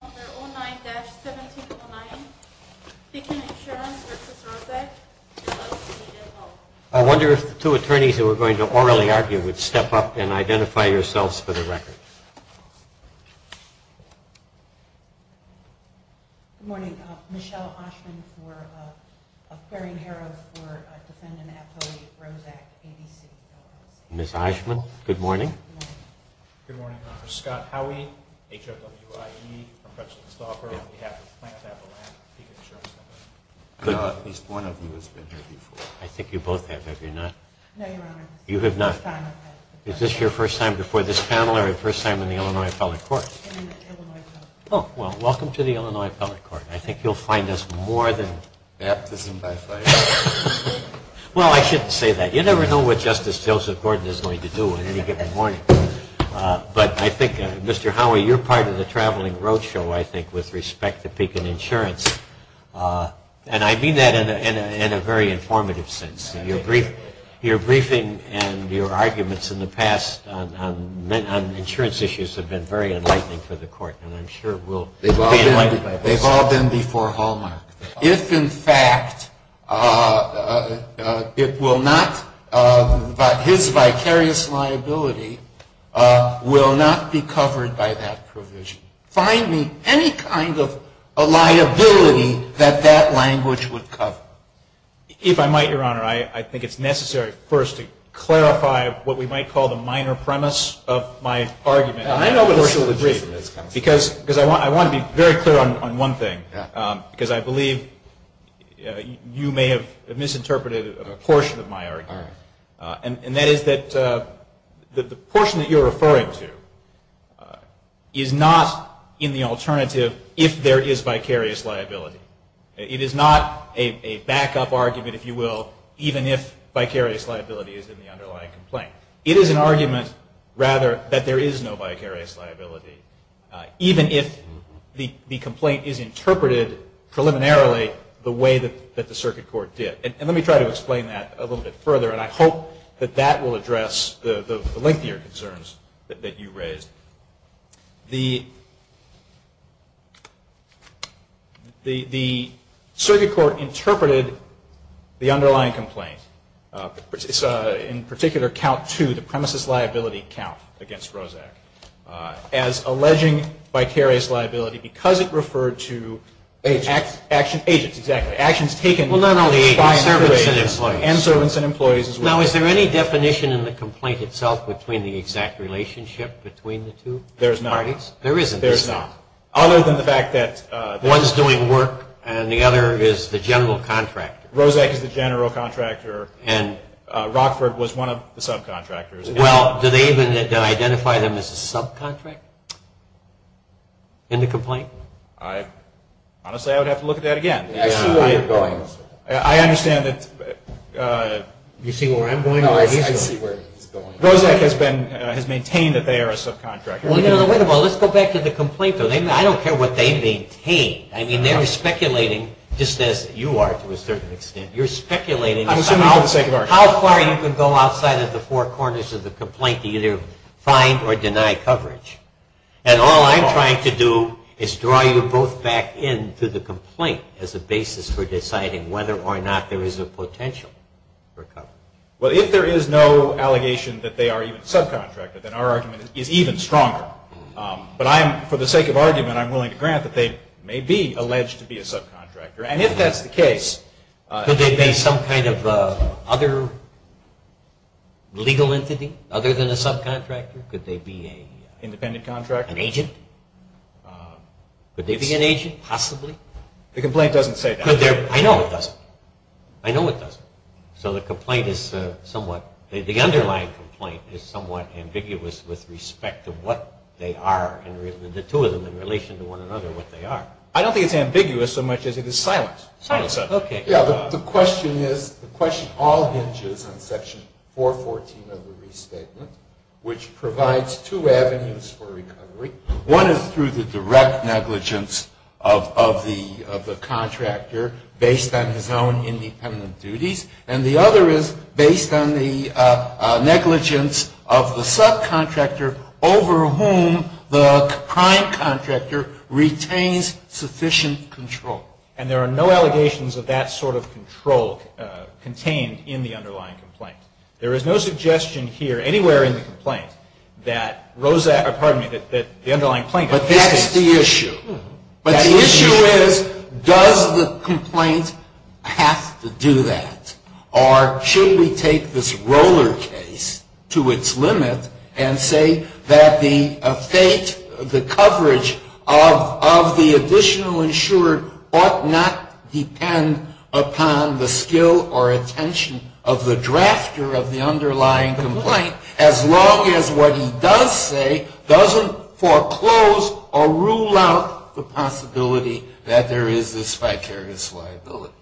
I wonder if the two attorneys who were going to orally argue would step up and identify yourselves for the record. Good morning. Michelle Oshman for, of Query and Heroes for Defendant Apollo v. Roszak, ADC, Illinois. Ms. Oshman, good morning. Good morning, Your Honor. Scott Howey, HRW-IE, from Fretchley and Stauffer, on behalf of Planned Parenthood, Avalanche, and Pekin Insurance Company. At least one of you has been here before. I think you both have. Have you not? No, Your Honor. You have not. Is this your first time before this panel or your first time in the Illinois Appellate Court? Illinois Court. Oh, well, welcome to the Illinois Appellate Court. I think you'll find us more than... Baptism by fire. Well, I shouldn't say that. You never know what Justice Joseph Gordon is going to do on any given morning. But I think, Mr. Howey, you're part of the traveling road show, I think, with respect to Pekin Insurance. And I mean that in a very informative sense. Your briefing and your arguments in the past on insurance issues have been very enlightening for the Court. And I'm sure we'll be enlightened by this. They've all been before Hallmark. If, in fact, it will not, his vicarious liability will not be covered by that provision. Find me any kind of a liability that that language would cover. If I might, Your Honor, I think it's necessary first to clarify what we might call the minor premise of my argument. I know what the solution is, counsel. Because I want to be very clear on one thing. Because I believe you may have misinterpreted a portion of my argument. And that is that the portion that you're referring to is not in the alternative if there is vicarious liability. It is not a backup argument, if you will, even if vicarious liability is in the underlying complaint. It is an argument, rather, that there is no vicarious liability, even if the complaint is interpreted preliminarily the way that the Circuit Court did. And let me try to explain that a little bit further. And I hope that that will address the lengthier concerns that you raised. The Circuit Court interpreted the underlying complaint, in particular, Count 2, the premises liability count against Roszak, as alleging vicarious liability because it referred to action. Agents. Agents, exactly. Actions taken. Well, not only agents, servants and employees. And servants and employees as well. Now, is there any definition in the complaint itself between the exact relationship between the two parties? There is not. There isn't? There is not. Other than the fact that... One is doing work and the other is the general contractor. Roszak is the general contractor and Rockford was one of the subcontractors. Well, do they even identify them as a subcontractor in the complaint? Honestly, I would have to look at that again. I understand that... You see where I'm going? No, I see where he's going. Roszak has maintained that they are a subcontractor. Well, let's go back to the complaint. I don't care what they maintain. I mean, they're speculating just as you are to a certain extent. You're speculating about how far you can go outside of the four corners of the complaint to either find or deny coverage. And all I'm trying to do is draw you both back into the complaint as a basis for deciding whether or not there is a potential for coverage. Well, if there is no allegation that they are even subcontractor, then our argument is even stronger. But for the sake of argument, I'm willing to grant that they may be alleged to be a subcontractor. And if that's the case... Could they be some kind of other legal entity other than a subcontractor? Could they be a... Independent contract? An agent? Could they be an agent, possibly? The complaint doesn't say that. I know it doesn't. I know it doesn't. So the complaint is somewhat... The underlying complaint is somewhat ambiguous with respect to what they are, the two of them in relation to one another, what they are. I don't think it's ambiguous so much as it is silent. Silent, okay. Yeah, the question is, the question all hinges on Section 414 of the restatement, which provides two avenues for recovery. One is through the direct negligence of the contractor based on his own independent duties. And the other is based on the negligence of the subcontractor over whom the prime contractor retains sufficient control. And there are no allegations of that sort of control contained in the underlying complaint. There is no suggestion here anywhere in the complaint that the underlying complaint... But that's the issue. But the issue is, does the complaint have to do that? Or should we take this roller case to its limit and say that the fate, the coverage of the additional insurer ought not depend upon the skill or attention of the drafter of the underlying complaint as long as what he does say doesn't foreclose or rule out the possibility that there is this vicarious liability?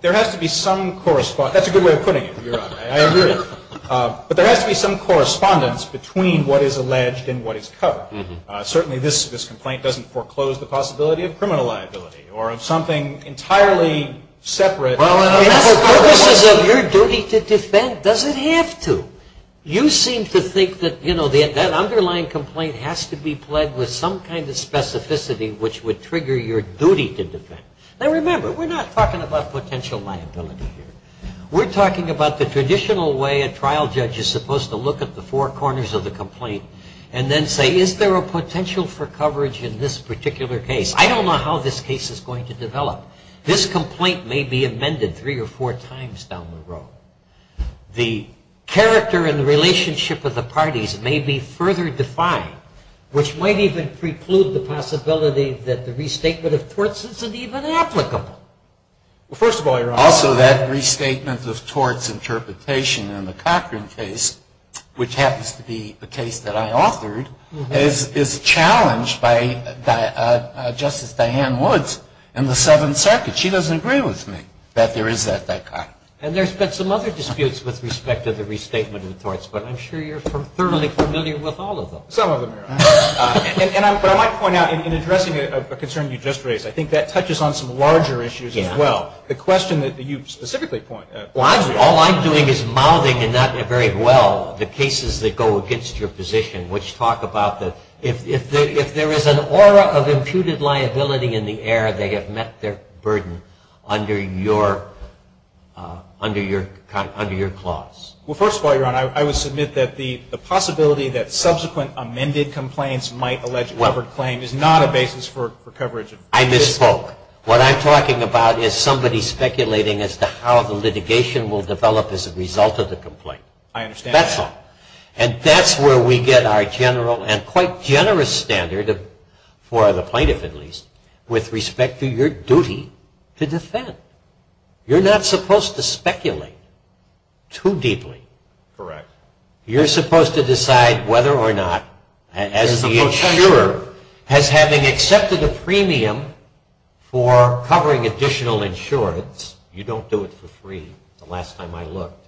That's a good way of putting it, Your Honor. I agree. But there has to be some correspondence between what is alleged and what is covered. Certainly this complaint doesn't foreclose the possibility of criminal liability or of something entirely separate. Well, in the purposes of your duty to defend, does it have to? You seem to think that, you know, that underlying complaint has to be pledged with some kind of specificity which would trigger your duty to defend. Now, remember, we're not talking about potential liability here. We're talking about the traditional way a trial judge is supposed to look at the four corners of the complaint and then say, is there a potential for coverage in this particular case? I don't know how this case is going to develop. This complaint may be amended three or four times down the road. The character and the relationship of the parties may be further defined, which might even preclude the possibility that the restatement of torts isn't even applicable. Well, first of all, Your Honor. Also, that restatement of torts interpretation in the Cochran case, which happens to be a case that I authored, is challenged by Justice Diane Woods in the Seventh Circuit. She doesn't agree with me that there is that vicar. And there's been some other disputes with respect to the restatement of torts, but I'm sure you're thoroughly familiar with all of them. Some of them, Your Honor. But I might point out, in addressing a concern you just raised, I think that touches on some larger issues as well. The question that you specifically point at. Well, all I'm doing is mouthing, and not very well, the cases that go against your position, which talk about if there is an aura of imputed liability in the air, they have met their burden under your clause. Well, first of all, Your Honor, I would submit that the possibility that subsequent amended complaints might allege a covered claim is not a basis for coverage. I misspoke. What I'm talking about is somebody speculating as to how the litigation will develop as a result of the complaint. I understand that. That's all. And that's where we get our general and quite generous standard, for the plaintiff at least, with respect to your duty to defend. You're not supposed to speculate too deeply. Correct. You're supposed to decide whether or not, as the insurer, as having accepted a premium for covering additional insurance, you don't do it for free, the last time I looked,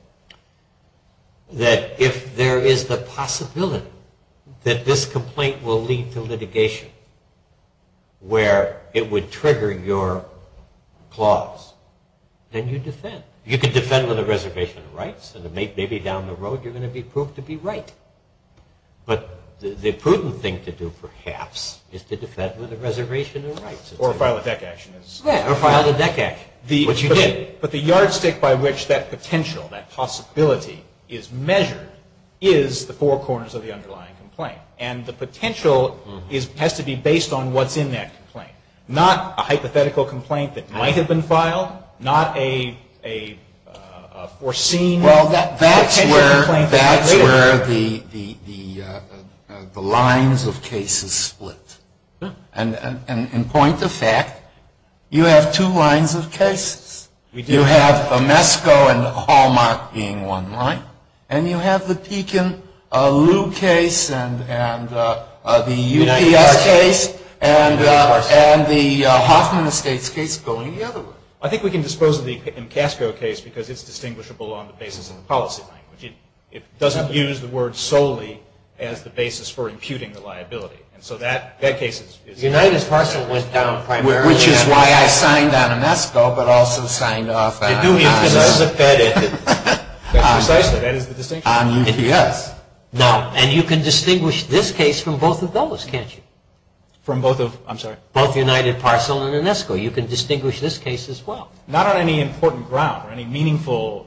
that if there is the possibility that this complaint will lead to litigation, where it would trigger your clause, then you defend. You can defend with a reservation of rights, and maybe down the road you're going to be proved to be right. But the prudent thing to do, perhaps, is to defend with a reservation of rights. Or file a deck action. But the yardstick by which that potential, that possibility, is measured is the four corners of the underlying complaint. And the potential has to be based on what's in that complaint. Not a hypothetical complaint that might have been filed. Not a foreseen potential complaint. Well, that's where the lines of case is split. In point of fact, you have two lines of cases. You have Mesco and Hallmark being one line. And you have the Pekin-Lieu case and the UPS case and the Hoffman Estates case going the other way. I think we can dispose of the Pekin-Casco case because it's distinguishable on the basis of the policy language. It doesn't use the word solely as the basis for imputing the liability. And so that case is... United Parcel went down primarily... Which is why I signed on UNESCO, but also signed off on... It's because there's a Fed in it. Precisely. That is the distinction. On UPS. Now, and you can distinguish this case from both of those, can't you? From both of, I'm sorry? Both United Parcel and UNESCO. You can distinguish this case as well. Not on any important ground or any meaningful...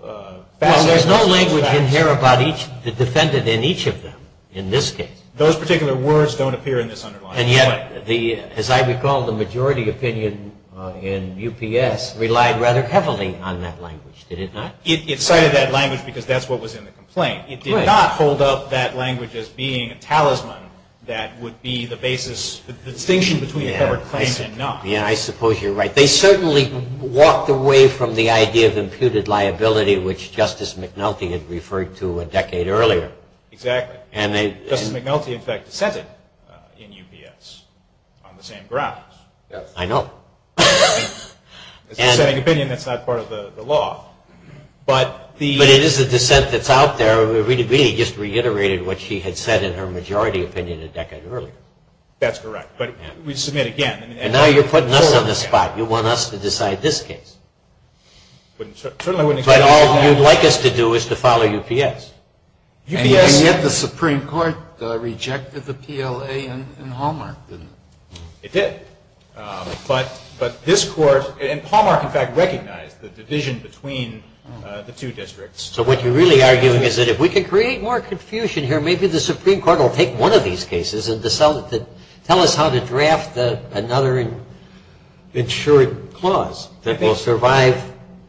Well, there's no language in here about each, that defended in each of them in this case. Those particular words don't appear in this underlying complaint. And yet, as I recall, the majority opinion in UPS relied rather heavily on that language, did it not? It cited that language because that's what was in the complaint. It did not hold up that language as being a talisman that would be the basis, the distinction between a covered claim and not. Yeah, I suppose you're right. They certainly walked away from the idea of imputed liability, which Justice McNulty had referred to a decade earlier. Exactly. Justice McNulty, in fact, dissented in UPS on the same grounds. Yes. I know. It's a dissenting opinion that's not part of the law. But it is a dissent that's out there. Rita Beeney just reiterated what she had said in her majority opinion a decade earlier. That's correct. But we submit again. And now you're putting us on the spot. You want us to decide this case. But all you'd like us to do is to follow UPS. And yet the Supreme Court rejected the PLA and Hallmark, didn't it? It did. But this Court, and Hallmark, in fact, recognized the division between the two districts. So what you're really arguing is that if we can create more confusion here, maybe the Supreme Court will take one of these cases and tell us how to draft another insured clause that will survive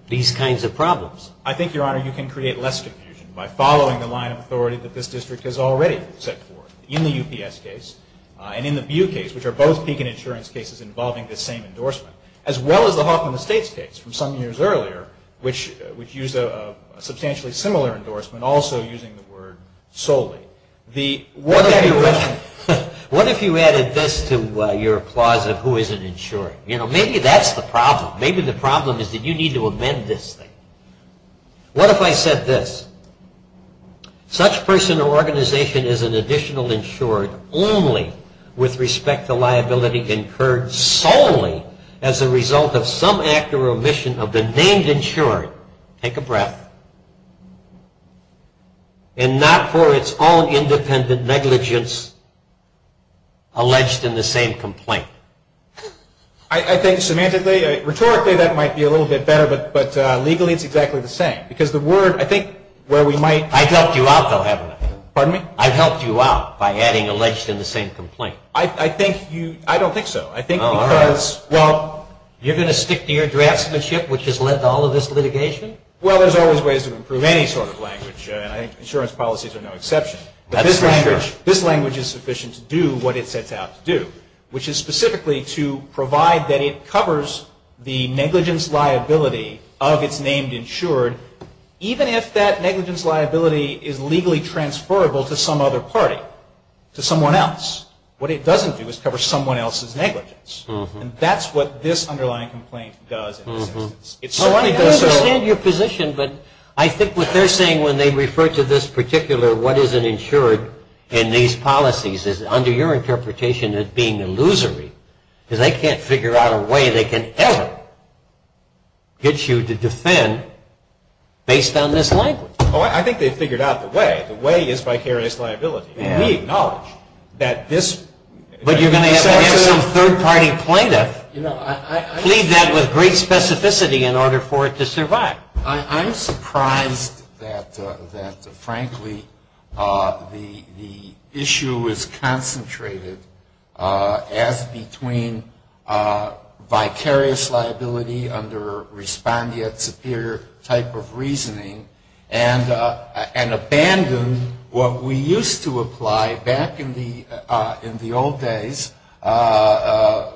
these kinds of problems. I think, Your Honor, you can create less confusion. By following the line of authority that this district has already set forth in the UPS case and in the BU case, which are both peak and insurance cases involving this same endorsement, as well as the Hoffman Estates case from some years earlier, which used a substantially similar endorsement, also using the word solely. What if you added this to your clause of who isn't insured? Maybe that's the problem. Maybe the problem is that you need to amend this thing. What if I said this? Such person or organization is an additional insured only with respect to liability incurred solely as a result of some act or omission of the named insured. Take a breath. And not for its own independent negligence alleged in the same complaint. I think semantically, rhetorically, that might be a little bit better. But legally, it's exactly the same. Because the word, I think, where we might... I've helped you out, though, haven't I? Pardon me? I've helped you out by adding alleged in the same complaint. I think you, I don't think so. I think because, well... You're going to stick to your draftsmanship, which has led to all of this litigation? Well, there's always ways to improve any sort of language. And I think insurance policies are no exception. That's language. This language is sufficient to do what it sets out to do, which is specifically to provide that it covers the negligence liability of its named insured, even if that negligence liability is legally transferable to some other party, to someone else. What it doesn't do is cover someone else's negligence. And that's what this underlying complaint does. I understand your position, but I think what they're saying when they refer to this particular what is an insured in these policies is under your interpretation as being illusory because they can't figure out a way they can ever get you to defend based on this language. Oh, I think they've figured out the way. The way is vicarious liability. And we acknowledge that this... But you're going to have to have some third-party plaintiff plead that with great specificity in order for it to survive. I'm surprised that, frankly, the issue is concentrated as between vicarious liability under respondeat superior type of reasoning and abandon what we used to apply back in the old days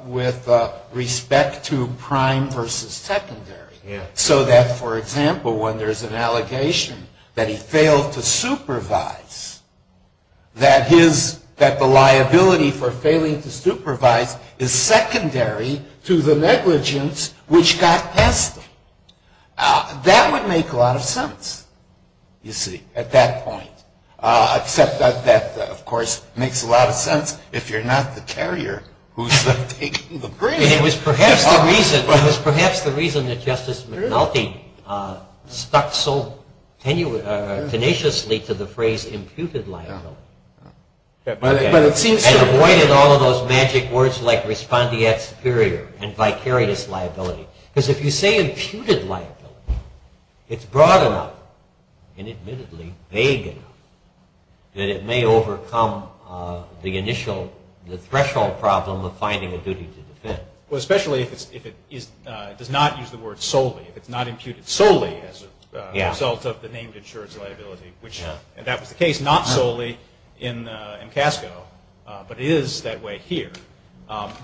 with respect to prime versus secondary. So that, for example, when there's an allegation that he failed to supervise, that the liability for failing to supervise is secondary to the negligence which got past him. That would make a lot of sense, you see, at that point. Except that that, of course, makes a lot of sense if you're not the carrier who's taking the brain. It was perhaps the reason that Justice McNulty stuck so tenaciously to the phrase imputed liability and avoided all of those magic words like respondeat superior and vicarious liability. Because if you say imputed liability, it's broad enough and admittedly vague enough that it may overcome the initial threshold problem of finding a duty to defend. Especially if it does not use the word solely, if it's not imputed solely as a result of the named insurance liability, which that was the case not solely in MCASCO, but it is that way here.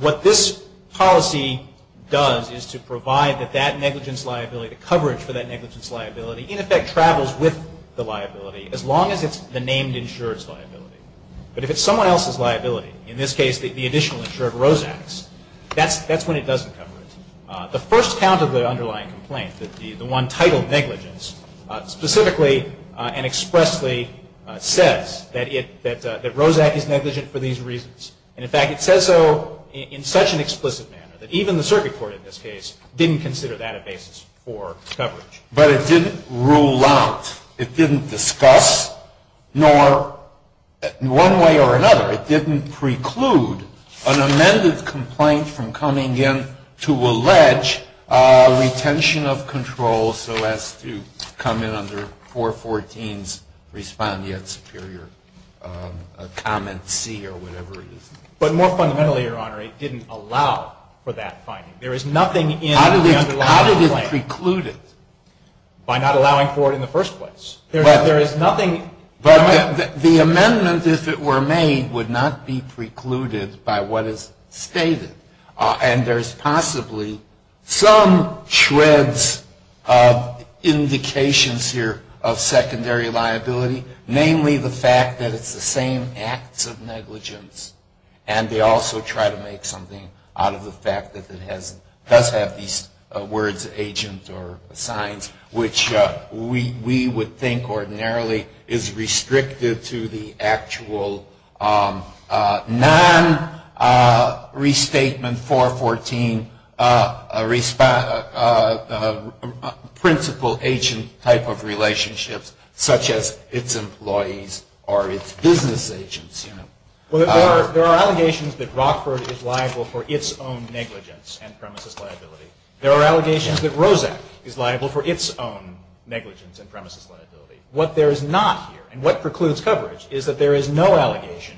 What this policy does is to provide that that negligence liability, the coverage for that negligence liability, in effect travels with the liability as long as it's the named insurance liability. But if it's someone else's liability, in this case the additional insurer of Rosak's, that's when it doesn't cover it. The first count of the underlying complaint, the one titled negligence, specifically and expressly says that Rosak is negligent for these reasons. And, in fact, it says so in such an explicit manner that even the circuit court in this case didn't consider that a basis for coverage. But it didn't rule out, it didn't discuss, nor one way or another, it didn't preclude an amended complaint from coming in to allege retention of control so as to come in under 414's respondeat superior comment C or whatever it is. But more fundamentally, Your Honor, it didn't allow for that finding. There is nothing in the underlying complaint. It was precluded by not allowing for it in the first place. There is nothing. But the amendment, if it were made, would not be precluded by what is stated. And there's possibly some shreds of indications here of secondary liability, namely the fact that it's the same acts of negligence, and they also try to make something out of the fact that it does have these words agent or signs, which we would think ordinarily is restricted to the actual non-restatement 414 principal agent type of relationships, such as its employees or its business agents. There are allegations that Rockford is liable for its own negligence and premises liability. There are allegations that Roszak is liable for its own negligence and premises liability. What there is not here, and what precludes coverage, is that there is no allegation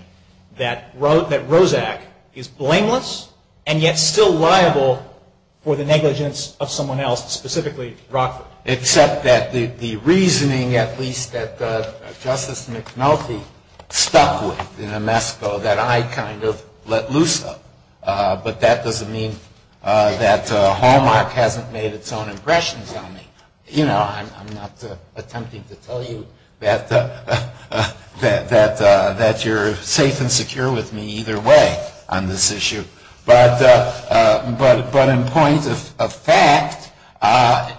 that Roszak is blameless and yet still liable for the negligence of someone else, specifically Rockford. Except that the reasoning, at least that Justice McNulty stuck with in Amesco, that I kind of let loose of. But that doesn't mean that Hallmark hasn't made its own impressions on me. You know, I'm not attempting to tell you that you're safe and secure with me either way on this issue. But in point of fact,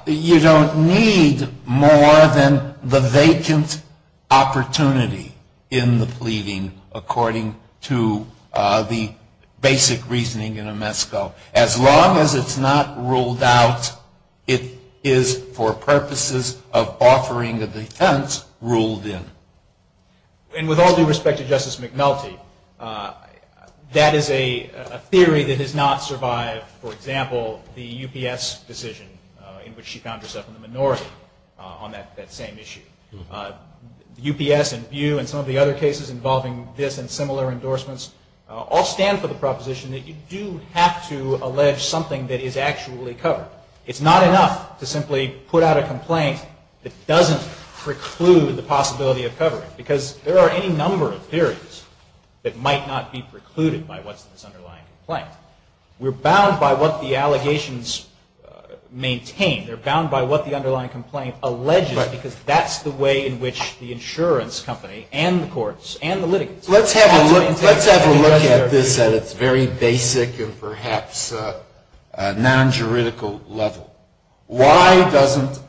you don't need more than the vacant opportunity in the pleading, according to the basic reasoning in Amesco. As long as it's not ruled out, it is for purposes of offering a defense ruled in. And with all due respect to Justice McNulty, that is a theory that has not survived, for example, the UPS decision in which she found herself in the minority on that same issue. UPS and BU and some of the other cases involving this and similar endorsements all stand for the proposition that you do have to allege something that is actually covered. It's not enough to simply put out a complaint that doesn't preclude the possibility of covering it. Because there are any number of theories that might not be precluded by what's in this underlying complaint. We're bound by what the allegations maintain. They're bound by what the underlying complaint alleges, because that's the way in which the insurance company and the courts and the litigants Let's have a look at this at its very basic and perhaps non-juridical level. Why doesn't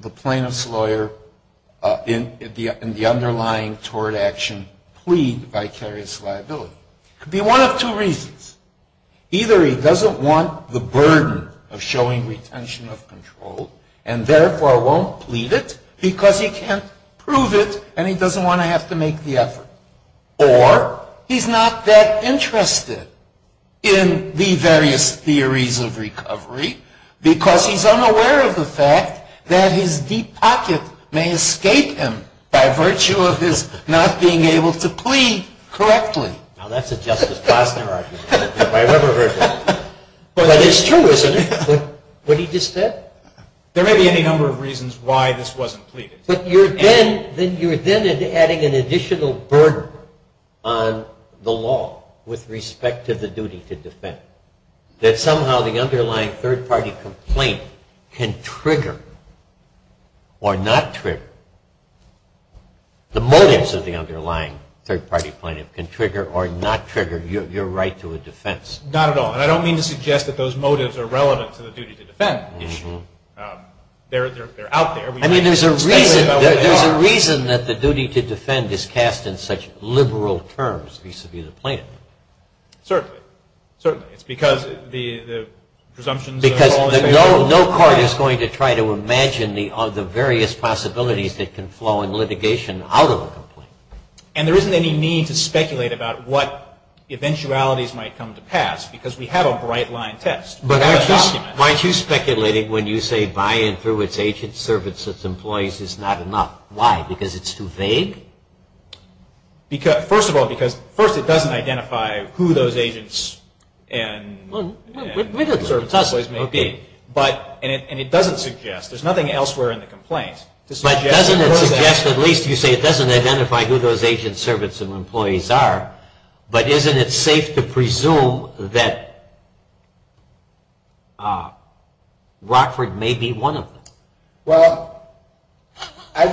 the plaintiff's lawyer in the underlying tort action plead vicarious liability? It could be one of two reasons. Either he doesn't want the burden of showing retention of control and therefore won't plead it because he can't prove it and he doesn't want to have to make the effort. Or he's not that interested in the various theories of recovery because he's unaware of the fact that his deep pocket may escape him by virtue of his not being able to plead correctly. Now that's a Justice Gossner argument. Well, that is true, isn't it? What he just said. There may be any number of reasons why this wasn't pleaded. But you're then adding an additional burden on the law with respect to the duty to defend, that somehow the underlying third-party complaint can trigger or not trigger. The motives of the underlying third-party plaintiff can trigger or not trigger your right to a defense. Not at all, and I don't mean to suggest that those motives are relevant to the duty to defend issue. They're out there. I mean, there's a reason that the duty to defend is cast in such liberal terms vis-a-vis the plaintiff. Certainly. Certainly. It's because the presumptions of all that they hold. Because no court is going to try to imagine the various possibilities that can flow in litigation out of a complaint. And there isn't any need to speculate about what eventualities might come to pass because we have a bright-line test. But aren't you speculating when you say, by and through its agents, servants, its employees is not enough? Why? Because it's too vague? First of all, because first it doesn't identify who those agents and servants, servants, employees may be. And it doesn't suggest. There's nothing elsewhere in the complaint. But doesn't it suggest, at least you say, it doesn't identify who those agents, servants, and employees are. But isn't it safe to presume that Rockford may be one of them? Well, I'd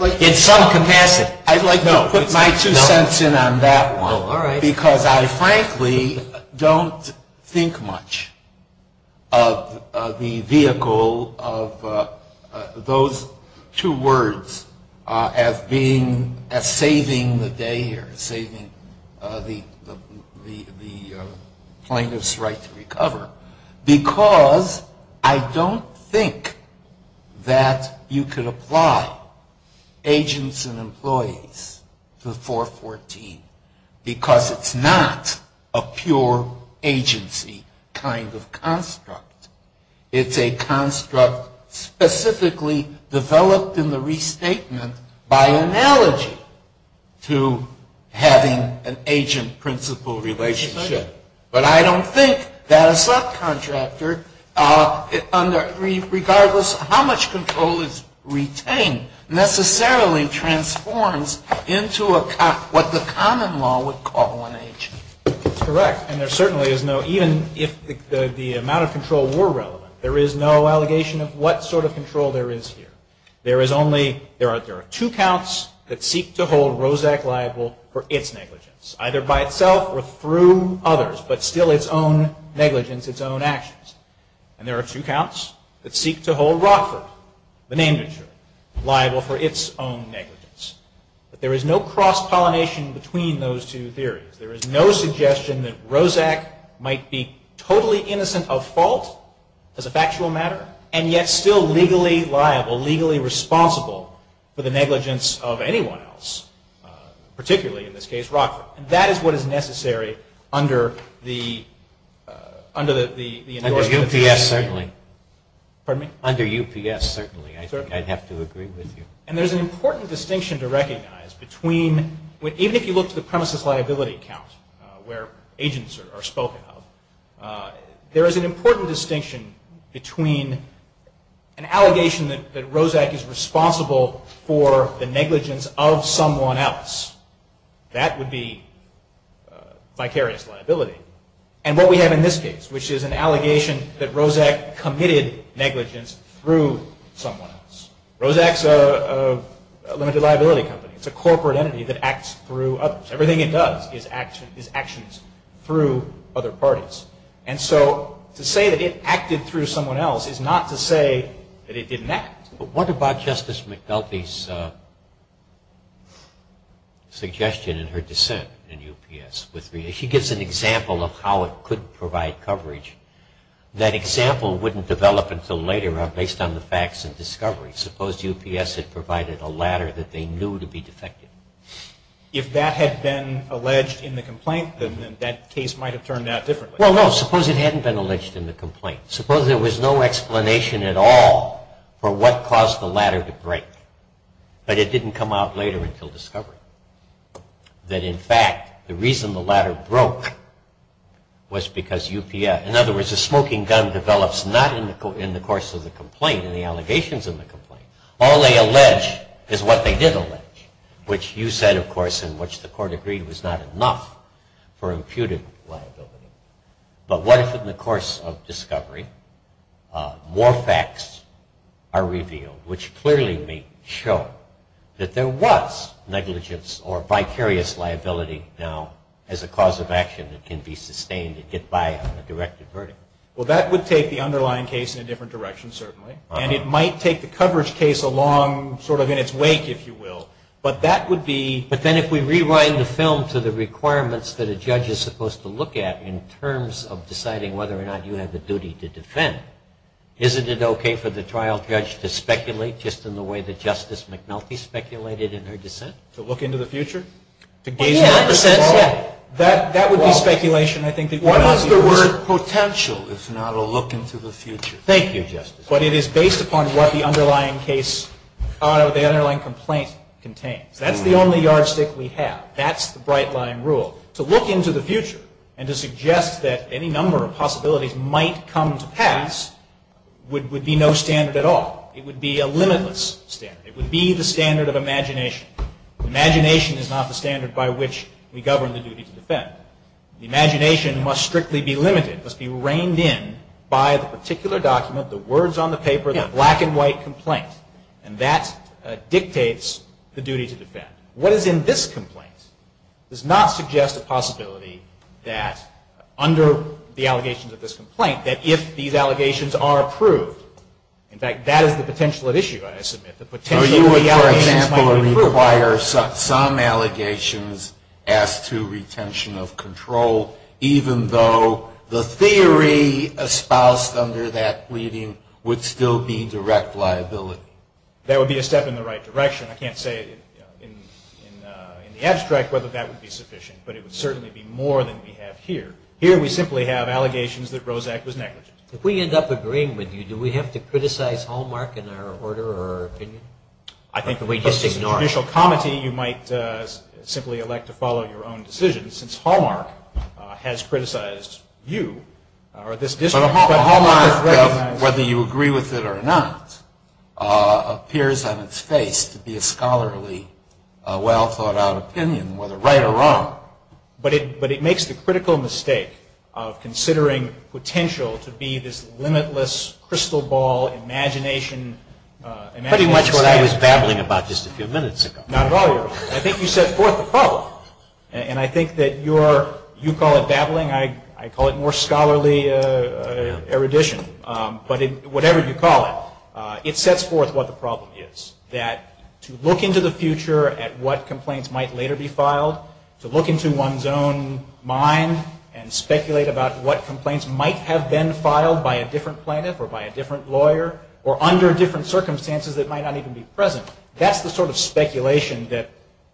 like to put my two cents in on that one. Because I frankly don't think much of the vehicle of those two words as saving the day or saving the plaintiff's right to recover. Because I don't think that you could apply agents and employees to the 414 because it's not a pure agency kind of construct. It's a construct specifically developed in the restatement by analogy to having an agent-principal relationship. But I don't think that a subcontractor, regardless of how much control is retained, necessarily transforms into what the common law would call an agent. That's correct. And there certainly is no, even if the amount of control were relevant, there is no allegation of what sort of control there is here. There is only, there are two counts that seek to hold Roszak liable for its negligence, either by itself or through others, but still its own negligence, its own actions. And there are two counts that seek to hold Rockford, the name it should, liable for its own negligence. But there is no cross-pollination between those two theories. There is no suggestion that Roszak might be totally innocent of fault as a factual matter, and yet still legally liable, legally responsible for the negligence of anyone else, particularly in this case Rockford. And that is what is necessary under the, under the. Under UPS, certainly. Pardon me? Under UPS, certainly. I think I'd have to agree with you. And there's an important distinction to recognize between, even if you look to the premises liability count where agents are spoken of, there is an important distinction between an allegation that Roszak is responsible for the negligence of someone else. That would be vicarious liability. And what we have in this case, which is an allegation that Roszak committed negligence through someone else. Roszak is a limited liability company. It's a corporate entity that acts through others. Everything it does is actions through other parties. And so to say that it acted through someone else is not to say that it didn't act. But what about Justice McDulphy's suggestion in her dissent in UPS? She gives an example of how it could provide coverage. That example wouldn't develop until later based on the facts and discovery. Suppose UPS had provided a ladder that they knew to be defective. If that had been alleged in the complaint, then that case might have turned out differently. Well, no. Suppose it hadn't been alleged in the complaint. Suppose there was no explanation at all for what caused the ladder to break. But it didn't come out later until discovery. That, in fact, the reason the ladder broke was because UPS, in other words, a smoking gun develops not in the course of the complaint and the allegations in the complaint. All they allege is what they did allege, which you said, of course, in which the court agreed was not enough for imputed liability. But what if in the course of discovery more facts are revealed, which clearly may show that there was negligence or vicarious liability now as a cause of action that can be sustained and get by on a directed verdict? Well, that would take the underlying case in a different direction, certainly. And it might take the coverage case along sort of in its wake, if you will. But that would be But then if we rewind the film to the requirements that a judge is supposed to look at in terms of deciding whether or not you have a duty to defend, isn't it okay for the trial judge to speculate just in the way that Justice McNulty speculated in her dissent? To look into the future? To gaze into the future? Well, yeah. That would be speculation. I think that would be reasonable. What is the word potential, if not a look into the future? Thank you, Justice. But it is based upon what the underlying case, the underlying complaint contains. That's the only yardstick we have. That's the bright-line rule. To look into the future and to suggest that any number of possibilities might come to pass would be no standard at all. It would be a limitless standard. It would be the standard of imagination. Imagination is not the standard by which we govern the duty to defend. Imagination must strictly be limited, must be reined in by the particular document, the words on the paper, the black-and-white complaint. And that dictates the duty to defend. What is in this complaint does not suggest a possibility that under the allegations of this complaint, that if these allegations are approved, in fact, that is the potential at issue, I submit. So you would, for example, require some allegations as to retention of control, even though the theory espoused under that pleading would still be direct liability? That would be a step in the right direction. I can't say in the abstract whether that would be sufficient, but it would certainly be more than we have here. Here we simply have allegations that Roszak was negligent. If we end up agreeing with you, do we have to criticize Hallmark in our order or opinion? I think because it's judicial comity, you might simply elect to follow your own decisions, since Hallmark has criticized you or this district. But Hallmark, whether you agree with it or not, appears on its face to be a scholarly, well-thought-out opinion, whether right or wrong. But it makes the critical mistake of considering potential to be this limitless crystal ball imagination. Pretty much what I was babbling about just a few minutes ago. Not at all. I think you set forth the problem. And I think that you call it babbling. I call it more scholarly erudition. But whatever you call it, it sets forth what the problem is, that to look into the future at what complaints might later be filed, to look into one's own mind and speculate about what complaints might have been filed by a different plaintiff or by a different lawyer or under different circumstances that might not even be present, that's the sort of speculation that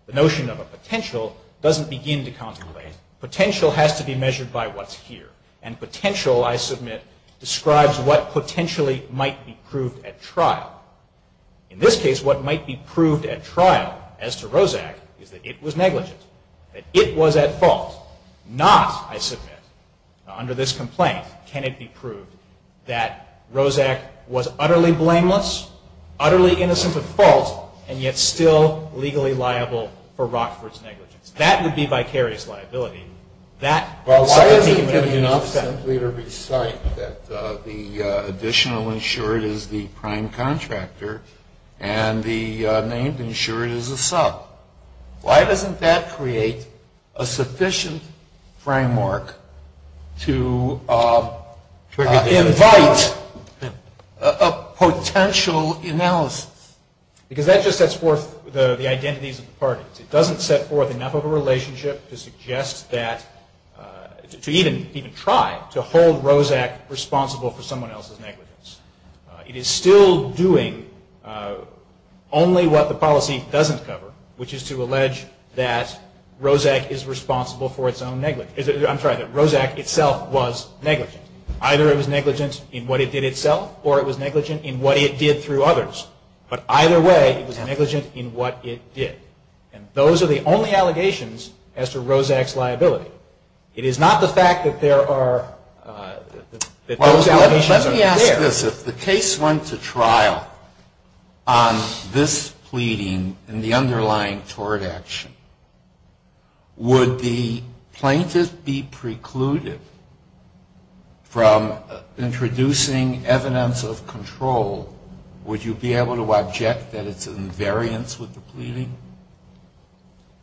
the notion of a potential doesn't begin to contemplate. Potential has to be measured by what's here. And potential, I submit, describes what potentially might be proved at trial. In this case, what might be proved at trial as to Roszak is that it was negligent, that it was at fault. Not, I submit, under this complaint, can it be proved that Roszak was utterly blameless, utterly innocent of fault, and yet still legally liable for Rockford's negligence. That would be vicarious liability. Why isn't it enough simply to recite that the additional insured is the prime contractor and the named insured is a sub? Why doesn't that create a sufficient framework to invite a potential analysis? Because that just sets forth the identities of the parties. It doesn't set forth enough of a relationship to suggest that, to even try to hold Roszak responsible for someone else's negligence. It is still doing only what the policy doesn't cover, which is to allege that Roszak is responsible for its own negligence. I'm sorry, that Roszak itself was negligent. Either it was negligent in what it did itself or it was negligent in what it did through others. But either way, it was negligent in what it did. And those are the only allegations as to Roszak's liability. It is not the fact that there are, that those allegations are there. Well, let me ask this. If the case went to trial on this pleading and the underlying tort action, would the plaintiff be precluded from introducing evidence of control? Would you be able to object that it's an invariance with the pleading?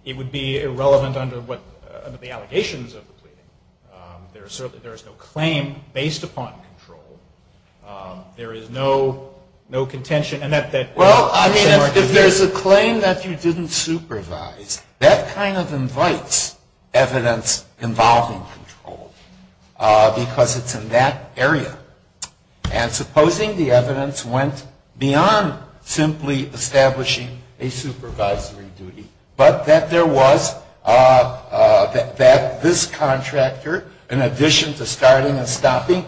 It would be irrelevant under the allegations of the pleading. There is no claim based upon control. There is no contention. Well, I mean, if there's a claim that you didn't supervise, that kind of invites evidence involving control because it's in that area. And supposing the evidence went beyond simply establishing a supervisory duty, but that there was, that this contractor, in addition to starting and stopping,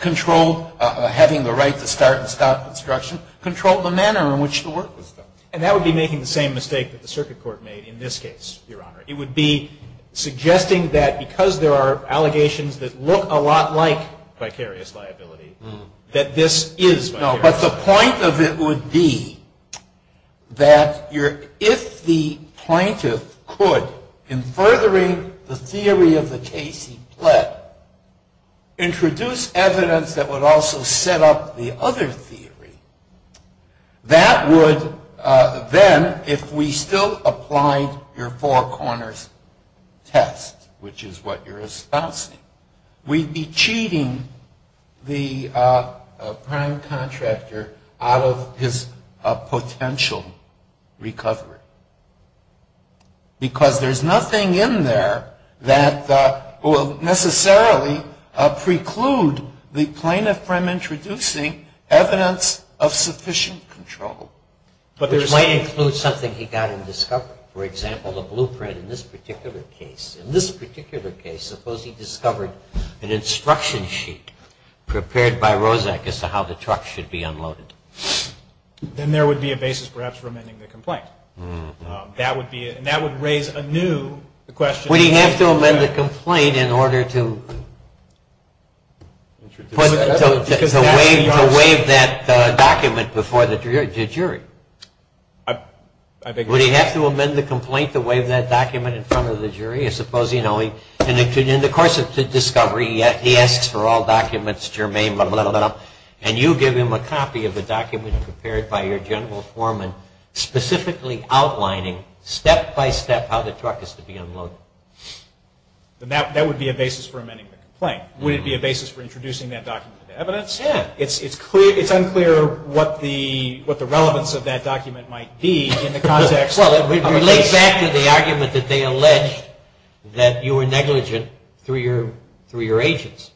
controlled having the right to start and stop construction, controlled the manner in which the work was done. And that would be making the same mistake that the circuit court made in this case, Your Honor. It would be suggesting that because there are allegations that look a lot like vicarious liability, that this is vicarious liability. No, but the point of it would be that if the plaintiff could, in furthering the theory of the case he pled, introduce evidence that would also set up the other theory, that would then, if we still applied your four corners test, which is what you're espousing, we'd be cheating the prime contractor out of his potential recovery. Because there's nothing in there that will necessarily preclude the plaintiff from introducing evidence of sufficient control. Which might include something he got in discovery. For example, the blueprint in this particular case. In this particular case, suppose he discovered an instruction sheet prepared by Roszak as to how the truck should be unloaded. Then there would be a basis perhaps for amending the complaint. And that would raise anew the question. Would he have to amend the complaint in order to waive that document before the jury? Would he have to amend the complaint to waive that document in front of the jury and suppose in the course of discovery he asks for all documents germane and you give him a copy of the document prepared by your general foreman specifically outlining step by step how the truck is to be unloaded. Then that would be a basis for amending the complaint. Would it be a basis for introducing that document to evidence? It's unclear what the relevance of that document might be in the context of the case. It relates back to the argument that they alleged that you were negligent through your agents.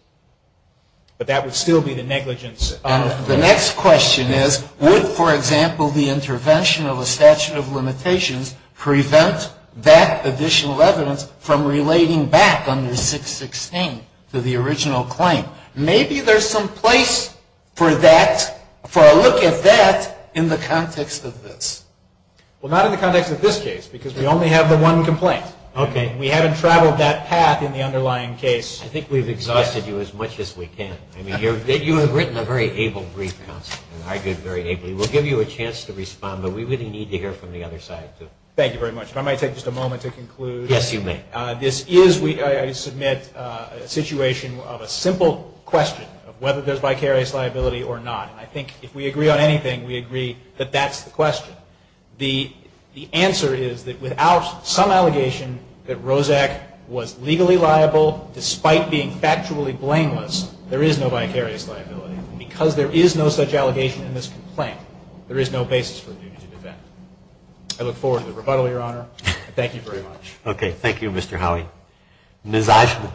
But that would still be the negligence. The next question is, would, for example, the intervention of a statute of limitations prevent that additional evidence from relating back under 616 to the original claim? Maybe there's some place for that, for a look at that in the context of this. Well, not in the context of this case, because we only have the one complaint. Okay. We haven't traveled that path in the underlying case. I think we've exhausted you as much as we can. I mean, you have written a very able brief, counsel, and argued very ably. We'll give you a chance to respond, but we really need to hear from the other side, too. Thank you very much. If I may take just a moment to conclude. Yes, you may. This is, I submit, a situation of a simple question of whether there's vicarious liability or not. I think if we agree on anything, we agree that that's the question. The answer is that without some allegation that Roszak was legally liable, despite being factually blameless, there is no vicarious liability. Because there is no such allegation in this complaint, there is no basis for a duty to defend. I look forward to the rebuttal, Your Honor. Thank you very much. Okay. Thank you, Mr. Howey. Ms. Eichmann.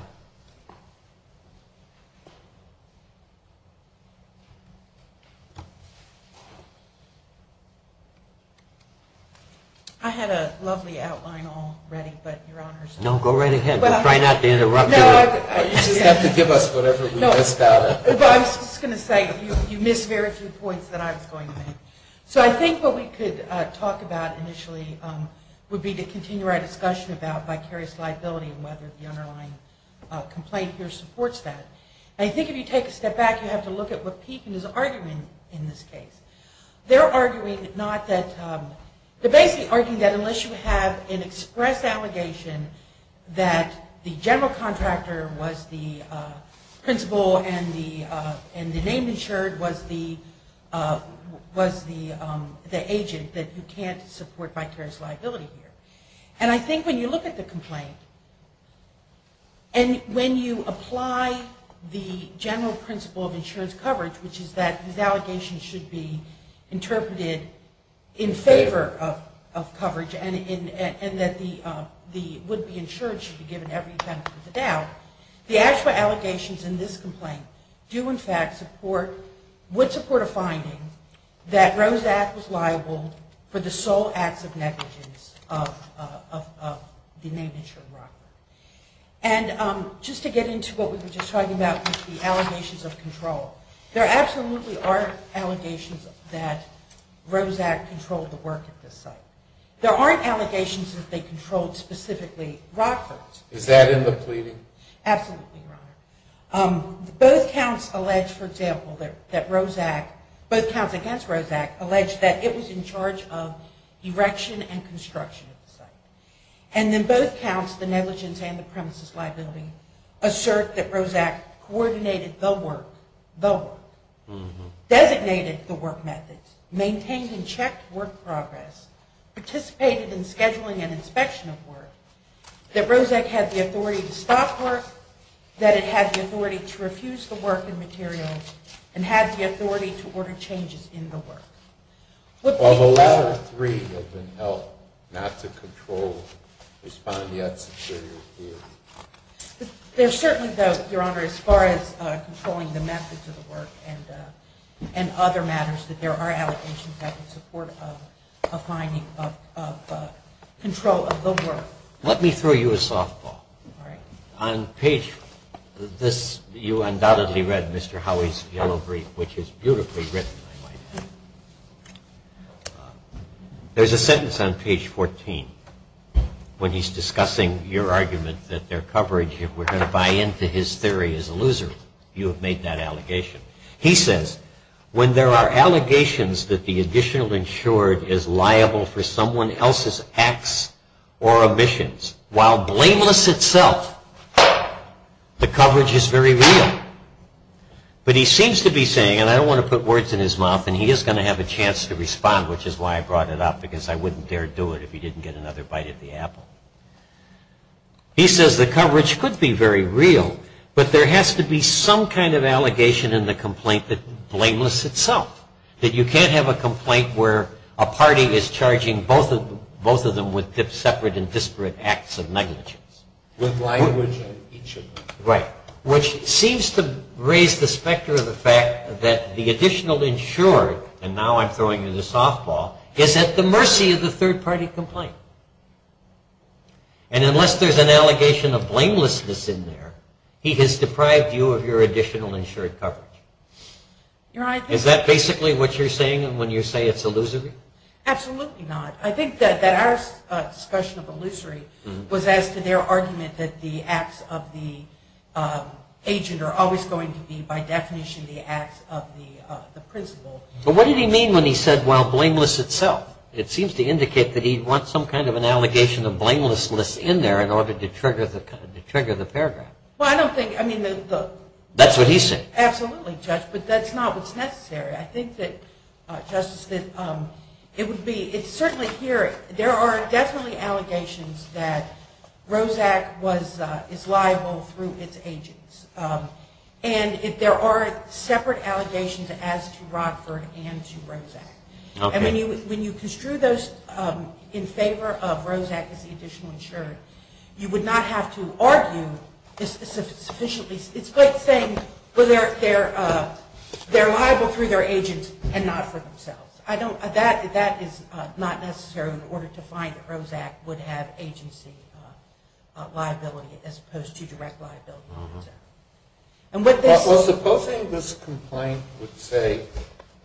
I had a lovely outline all ready, but, Your Honors. No, go right ahead. Try not to interrupt. You just have to give us whatever we missed out on. I was just going to say, you missed very few points that I was going to make. So I think what we could talk about initially would be to continue our discussion about vicarious liability and whether the underlying complaint here supports that. And I think if you take a step back, you have to look at what Pekin is arguing in this case. They're arguing not that, they're basically arguing that unless you have an express allegation that the general contractor was the principal and the name insured was the agent, that you can't support vicarious liability here. And I think when you look at the complaint and when you apply the general principle of insurance coverage, which is that these allegations should be interpreted in favor of coverage and that the would-be insured should be given every benefit of the doubt, the actual allegations in this complaint do in fact support, would support a finding that Roszak was liable for the sole acts of negligence of the name insured Rockford. And just to get into what we were just talking about with the allegations of control, there absolutely are allegations that Roszak controlled the work at this site. There aren't allegations that they controlled specifically Rockford. Absolutely, Your Honor. Both counts allege, for example, that Roszak, both counts against Roszak allege that it was in charge of erection and construction of the site. And then both counts, the negligence and the premises liability, assert that Roszak coordinated the work, designated the work methods, maintained and checked work progress, participated in scheduling and inspection of work, that Roszak had the authority to stop work, that it had the authority to refuse the work and materials, and had the authority to order changes in the work. Although those are three that have been held not to control, respond yet superior theory. There certainly, though, Your Honor, as far as controlling the methods of the work and other matters, that there are allegations that support a finding of control of the work. Let me throw you a softball. All right. On page this, you undoubtedly read Mr. Howey's yellow brief, which is beautifully written, I might add. There's a sentence on page 14, when he's discussing your argument that their coverage, if we're going to buy into his theory, is illusory. You have made that allegation. He says, when there are allegations that the additional insured is liable for someone else's acts or omissions, while blameless itself, the coverage is very real. But he seems to be saying, and I don't want to put words in his mouth, and he is going to have a chance to respond, which is why I brought it up, because I wouldn't dare do it if he didn't get another bite of the apple. He says the coverage could be very real, but there has to be some kind of allegation in the complaint that's blameless itself. That you can't have a complaint where a party is charging both of them with separate and disparate acts of negligence. With language of each of them. Right. Which seems to raise the specter of the fact that the additional insured, and now I'm throwing you the softball, is at the mercy of the third-party complaint. And unless there's an allegation of blamelessness in there, he has deprived you of your additional insured coverage. Is that basically what you're saying when you say it's illusory? Absolutely not. I think that our discussion of illusory was as to their argument that the acts of the agent are always going to be, by definition, the acts of the principal. But what did he mean when he said, well, blameless itself? It seems to indicate that he wants some kind of an allegation of blamelessness in there in order to trigger the paragraph. Well, I don't think, I mean the... That's what he's saying. Absolutely, Judge, but that's not what's necessary. I think that, Justice, it would be, it's certainly here, there are definitely allegations that ROSAC is liable through its agents. And there are separate allegations as to Rockford and to ROSAC. Okay. And when you construe those in favor of ROSAC as the additional insured, you would not have to argue sufficiently. It's like saying they're liable through their agents and not for themselves. That is not necessary in order to find that ROSAC would have agency liability as opposed to direct liability. Well, supposing this complaint would say,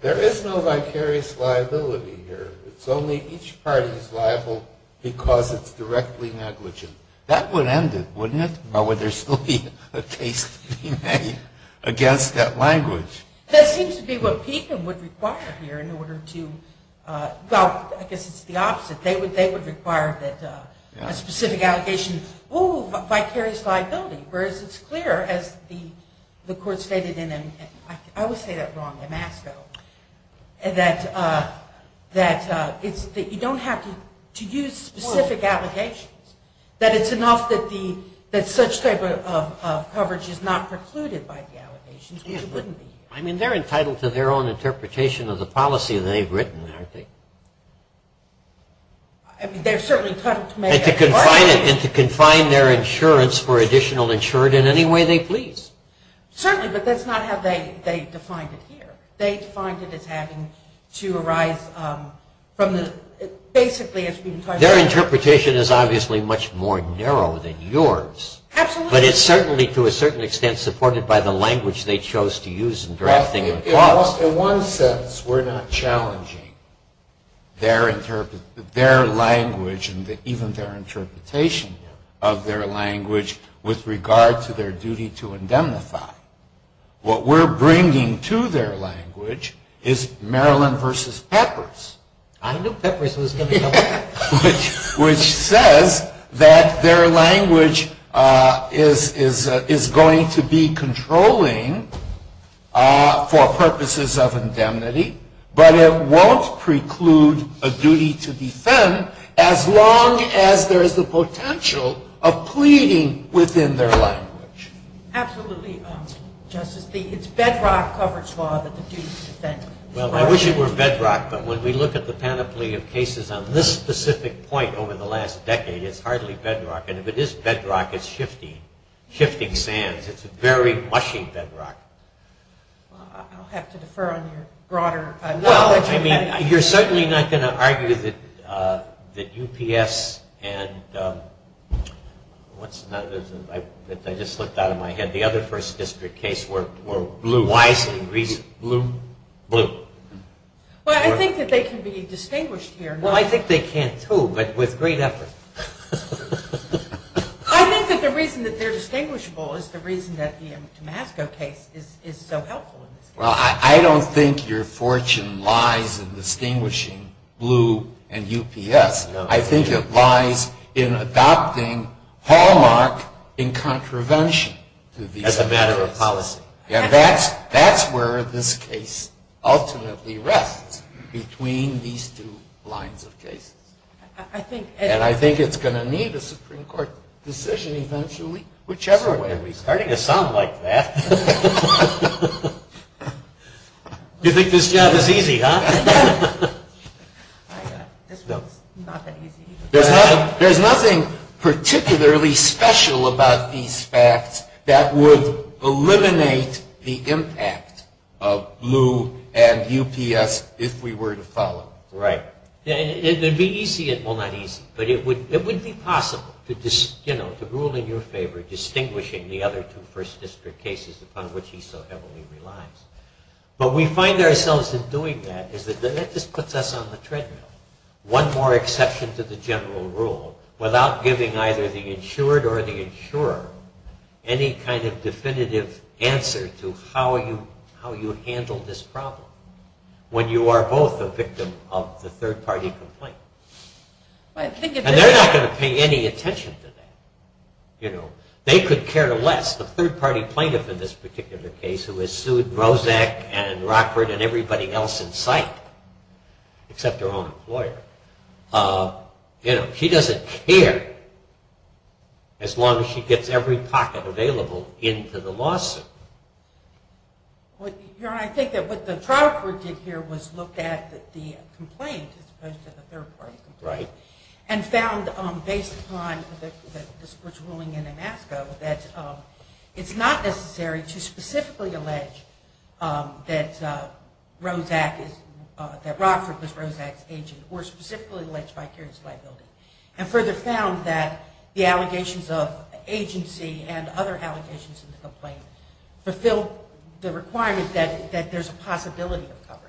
there is no vicarious liability here. It's only each party is liable because it's directly negligent. That would end it, wouldn't it? Or would there still be a case to be made against that language? That seems to be what Pekin would require here in order to, well, I guess it's the opposite. They would require that a specific allegation, oh, vicarious liability, whereas it's clear, as the Court stated in, I always say that wrong, Damasco, that you don't have to use specific allegations. That it's enough that such type of coverage is not precluded by the allegations, which it wouldn't be here. I mean, they're entitled to their own interpretation of the policy that they've written, aren't they? I mean, they're certainly entitled to make any argument. And to confine their insurance for additional insured in any way they please. Certainly, but that's not how they defined it here. They defined it as having to arise from the, basically, as we've been talking about. Their interpretation is obviously much more narrow than yours. Absolutely. But it's certainly, to a certain extent, supported by the language they chose to use in drafting the clause. In one sense, we're not challenging their language and even their interpretation of their language with regard to their duty to indemnify. What we're bringing to their language is Maryland versus Peppers. I knew Peppers was going to come back. Which says that their language is going to be controlling for purposes of indemnity, but it won't preclude a duty to defend as long as there is the potential of pleading within their language. Absolutely, Justice. It's bedrock coverage law that the duty to defend. Well, I wish it were bedrock, but when we look at the panoply of cases on this specific point over the last decade, it's hardly bedrock. And if it is bedrock, it's shifting, shifting sands. It's a very mushy bedrock. I'll have to defer on your broader knowledge. Well, I mean, you're certainly not going to argue that UPS and, what's another? I just slipped out of my head. The other first district case were wisely reasoned. Blue? Blue. Well, I think that they can be distinguished here. Well, I think they can, too, but with great effort. I think that the reason that they're distinguishable is the reason that the Damasco case is so helpful. Well, I don't think your fortune lies in distinguishing blue and UPS. I think it lies in adopting Hallmark in contravention to these other cases. As a matter of policy. And that's where this case ultimately rests, between these two lines of cases. And I think it's going to need a Supreme Court decision eventually, whichever way we see it. It's starting to sound like that. You think this job is easy, huh? This job is not that easy. There's nothing particularly special about these facts that would eliminate the impact of blue and UPS if we were to follow. Right. It would be easy. Well, not easy. But it would be possible to rule in your favor distinguishing the other two first district cases upon which he so heavily relies. But we find ourselves in doing that. That just puts us on the treadmill. One more exception to the general rule without giving either the insured or the insurer any kind of definitive answer to how you handle this problem. When you are both a victim of the third party complaint. And they're not going to pay any attention to that. They could care less. That's the third party plaintiff in this particular case who has sued Roszak and Rockford and everybody else in sight except her own employer. She doesn't care as long as she gets every pocket available into the lawsuit. I think what the trial court did here was look at the complaint as opposed to the third party complaint. Right. And found based upon the court's ruling in Amasco that it's not necessary to specifically allege that Roszak is, that Rockford was Roszak's agent or specifically allege vicarious liability. And further found that the allegations of agency and other allegations in the complaint fulfilled the requirement that there's a possibility of coverage.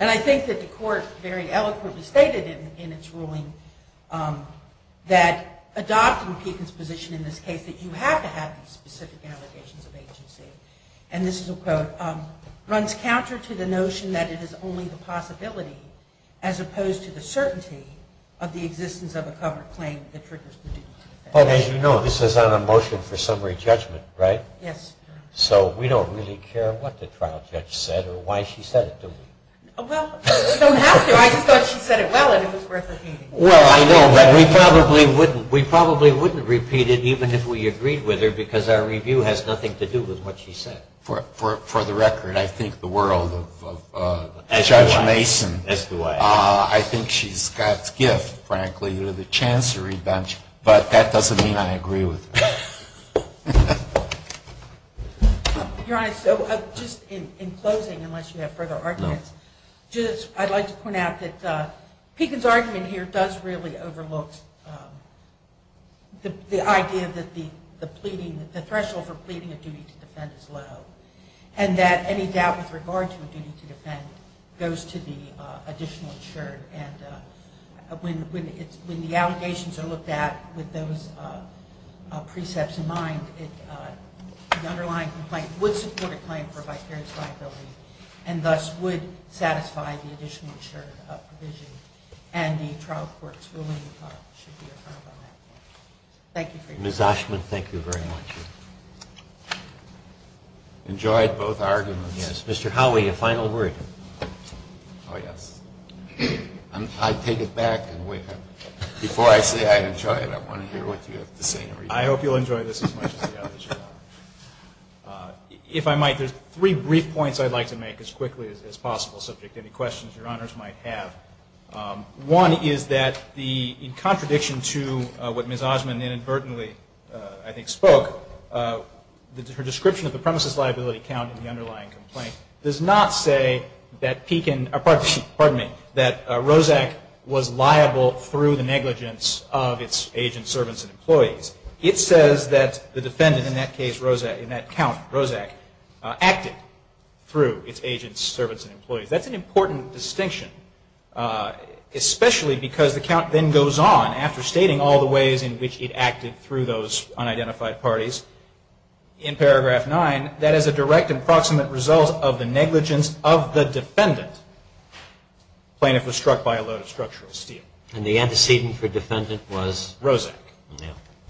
And I think that the court very eloquently stated in its ruling that adopting Pekin's position in this case, that you have to have these specific allegations of agency, and this is a quote, runs counter to the notion that it is only the possibility as opposed to the certainty of the existence of a covered claim that triggers the due process. As you know, this is on a motion for summary judgment, right? Yes. So we don't really care what the trial judge said or why she said it, do we? Well, we don't have to. I just thought she said it well and it was worth repeating. Well, I know, but we probably wouldn't repeat it even if we agreed with her because our review has nothing to do with what she said. For the record, I think the world of Judge Mason, I think she's got gift, frankly, with a chance of revenge, but that doesn't mean I agree with her. Your Honor, so just in closing, unless you have further arguments, I'd like to point out that Pekin's argument here does really overlook the idea that the threshold for pleading a duty to defend is low and that any doubt with regard to a duty to defend goes to the additional insured. And when the allegations are looked at with those precepts in mind, the underlying complaint would support a claim for vicarious liability and thus would satisfy the additional insured provision. And the trial court's ruling should be affirmed on that point. Thank you for your time. Ms. Oshman, thank you very much. Enjoyed both arguments. Yes. Mr. Howey, a final word. Oh, yes. I'll take it back. Before I say I enjoyed it, I want to hear what you have to say. I hope you'll enjoy this as much as the others. If I might, there's three brief points I'd like to make as quickly as possible, subject to any questions Your Honors might have. One is that in contradiction to what Ms. Oshman inadvertently, I think, spoke, her description of the premises liability count in the underlying complaint does not say that Roszak was liable through the negligence of its agents, servants, and employees. It says that the defendant in that count, Roszak, acted through its agents, servants, and employees. That's an important distinction, especially because the count then goes on after stating all the ways in which it acted through those unidentified parties. In paragraph nine, that is a direct and proximate result of the negligence of the defendant. The plaintiff was struck by a load of structural steel. And the antecedent for defendant was? Roszak.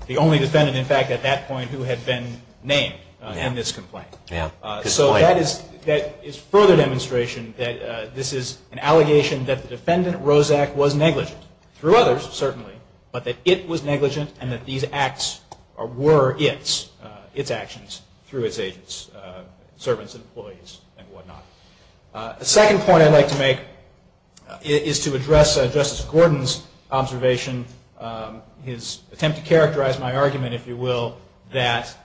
The only defendant, in fact, at that point who had been named in this complaint. So that is further demonstration that this is an allegation that the defendant, Roszak, was negligent through others, certainly, but that it was negligent and that these acts were its actions through its agents, servants, and employees, and whatnot. The second point I'd like to make is to address Justice Gordon's observation, his attempt to characterize my argument, if you will, that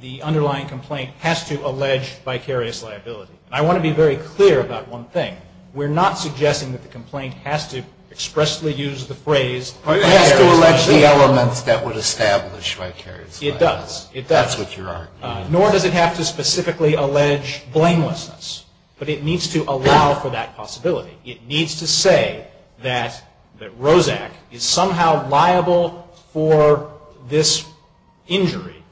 the underlying complaint has to allege vicarious liability. And I want to be very clear about one thing. We're not suggesting that the complaint has to expressly use the phrase vicarious liability. It has to allege the elements that would establish vicarious liability. It does. That's what you're arguing. Nor does it have to specifically allege blamelessness. But it needs to allow for that possibility. It needs to say that Roszak is somehow liable for this injury,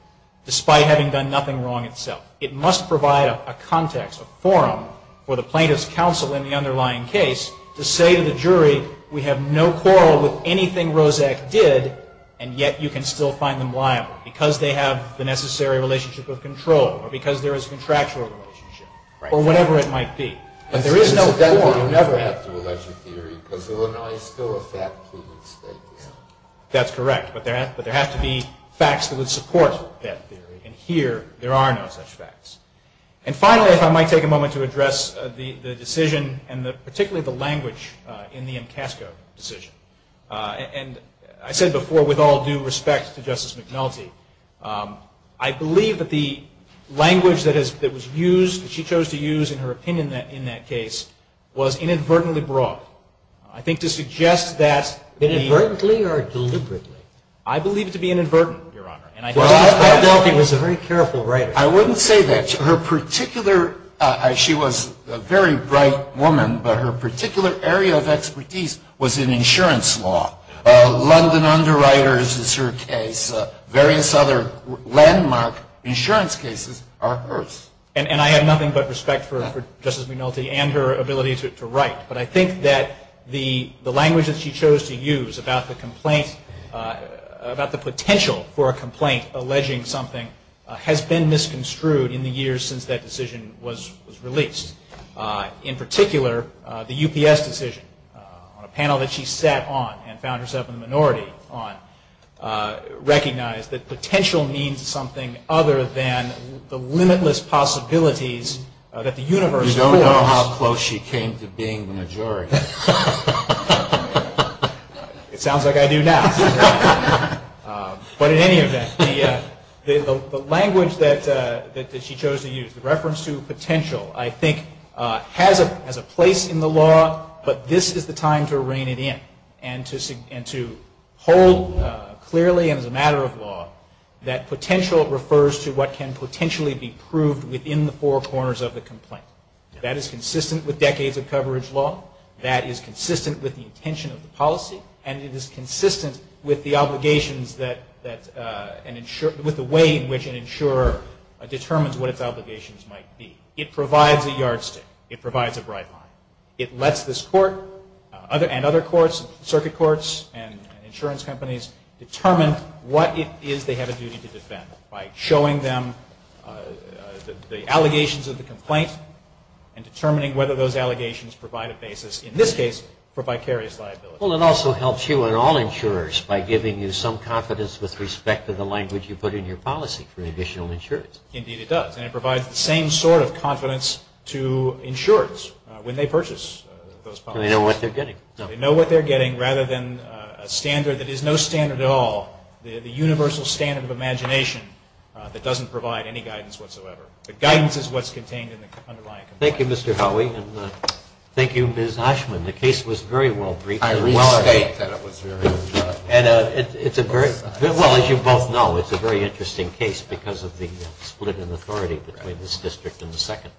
despite having done nothing wrong itself. It must provide a context, a forum, for the plaintiff's counsel in the underlying case to say to the jury, we have no quarrel with anything Roszak did, and yet you can still find them liable, because they have the necessary relationship of control or because there is a contractual relationship or whatever it might be. But there is no forum. You never have to allege a theory, because Illinois is still a fact-proven state. That's correct. But there have to be facts that would support that theory. And here, there are no such facts. And finally, if I might take a moment to address the decision and particularly the language in the MCASCO decision. And I said before, with all due respect to Justice McNulty, I believe that the language that was used, that she chose to use in her opinion in that case, was inadvertently broad. I think to suggest that the- Inadvertently or deliberately? I believe it to be inadvertently, Your Honor. Justice McNulty was a very careful writer. I wouldn't say that. Her particular, she was a very bright woman, but her particular area of expertise was in insurance law. London Underwriters is her case. Various other landmark insurance cases are hers. And I have nothing but respect for Justice McNulty and her ability to write. But I think that the language that she chose to use about the complaint, about the potential for a complaint alleging something, has been misconstrued in the years since that decision was released. In particular, the UPS decision, on a panel that she sat on and found herself in the minority on, recognized that potential means something other than the limitless possibilities that the universe holds. How close she came to being the majority? It sounds like I do now. But in any event, the language that she chose to use, the reference to potential, I think has a place in the law, but this is the time to rein it in and to hold clearly as a matter of law that potential refers to what can potentially be proved within the four corners of the complaint. That is consistent with decades of coverage law. That is consistent with the intention of the policy. And it is consistent with the obligations that an insurer, with the way in which an insurer determines what its obligations might be. It provides a yardstick. It provides a bright line. It lets this court and other courts, circuit courts and insurance companies, determine what it is they have a duty to defend by showing them the allegations of the complaint and determining whether those allegations provide a basis, in this case, for vicarious liability. Well, it also helps you and all insurers by giving you some confidence with respect to the language you put in your policy for additional insurance. Indeed, it does. And it provides the same sort of confidence to insurers when they purchase those policies. They know what they're getting. They know what they're getting rather than a standard that is no standard at all, the universal standard of imagination that doesn't provide any guidance whatsoever. The guidance is what's contained in the underlying complaint. Thank you, Mr. Howey. And thank you, Ms. Ashman. The case was very well briefed. I restate that it was very well briefed. And it's a very, well, as you both know, it's a very interesting case because of the split in authority between this district and the second.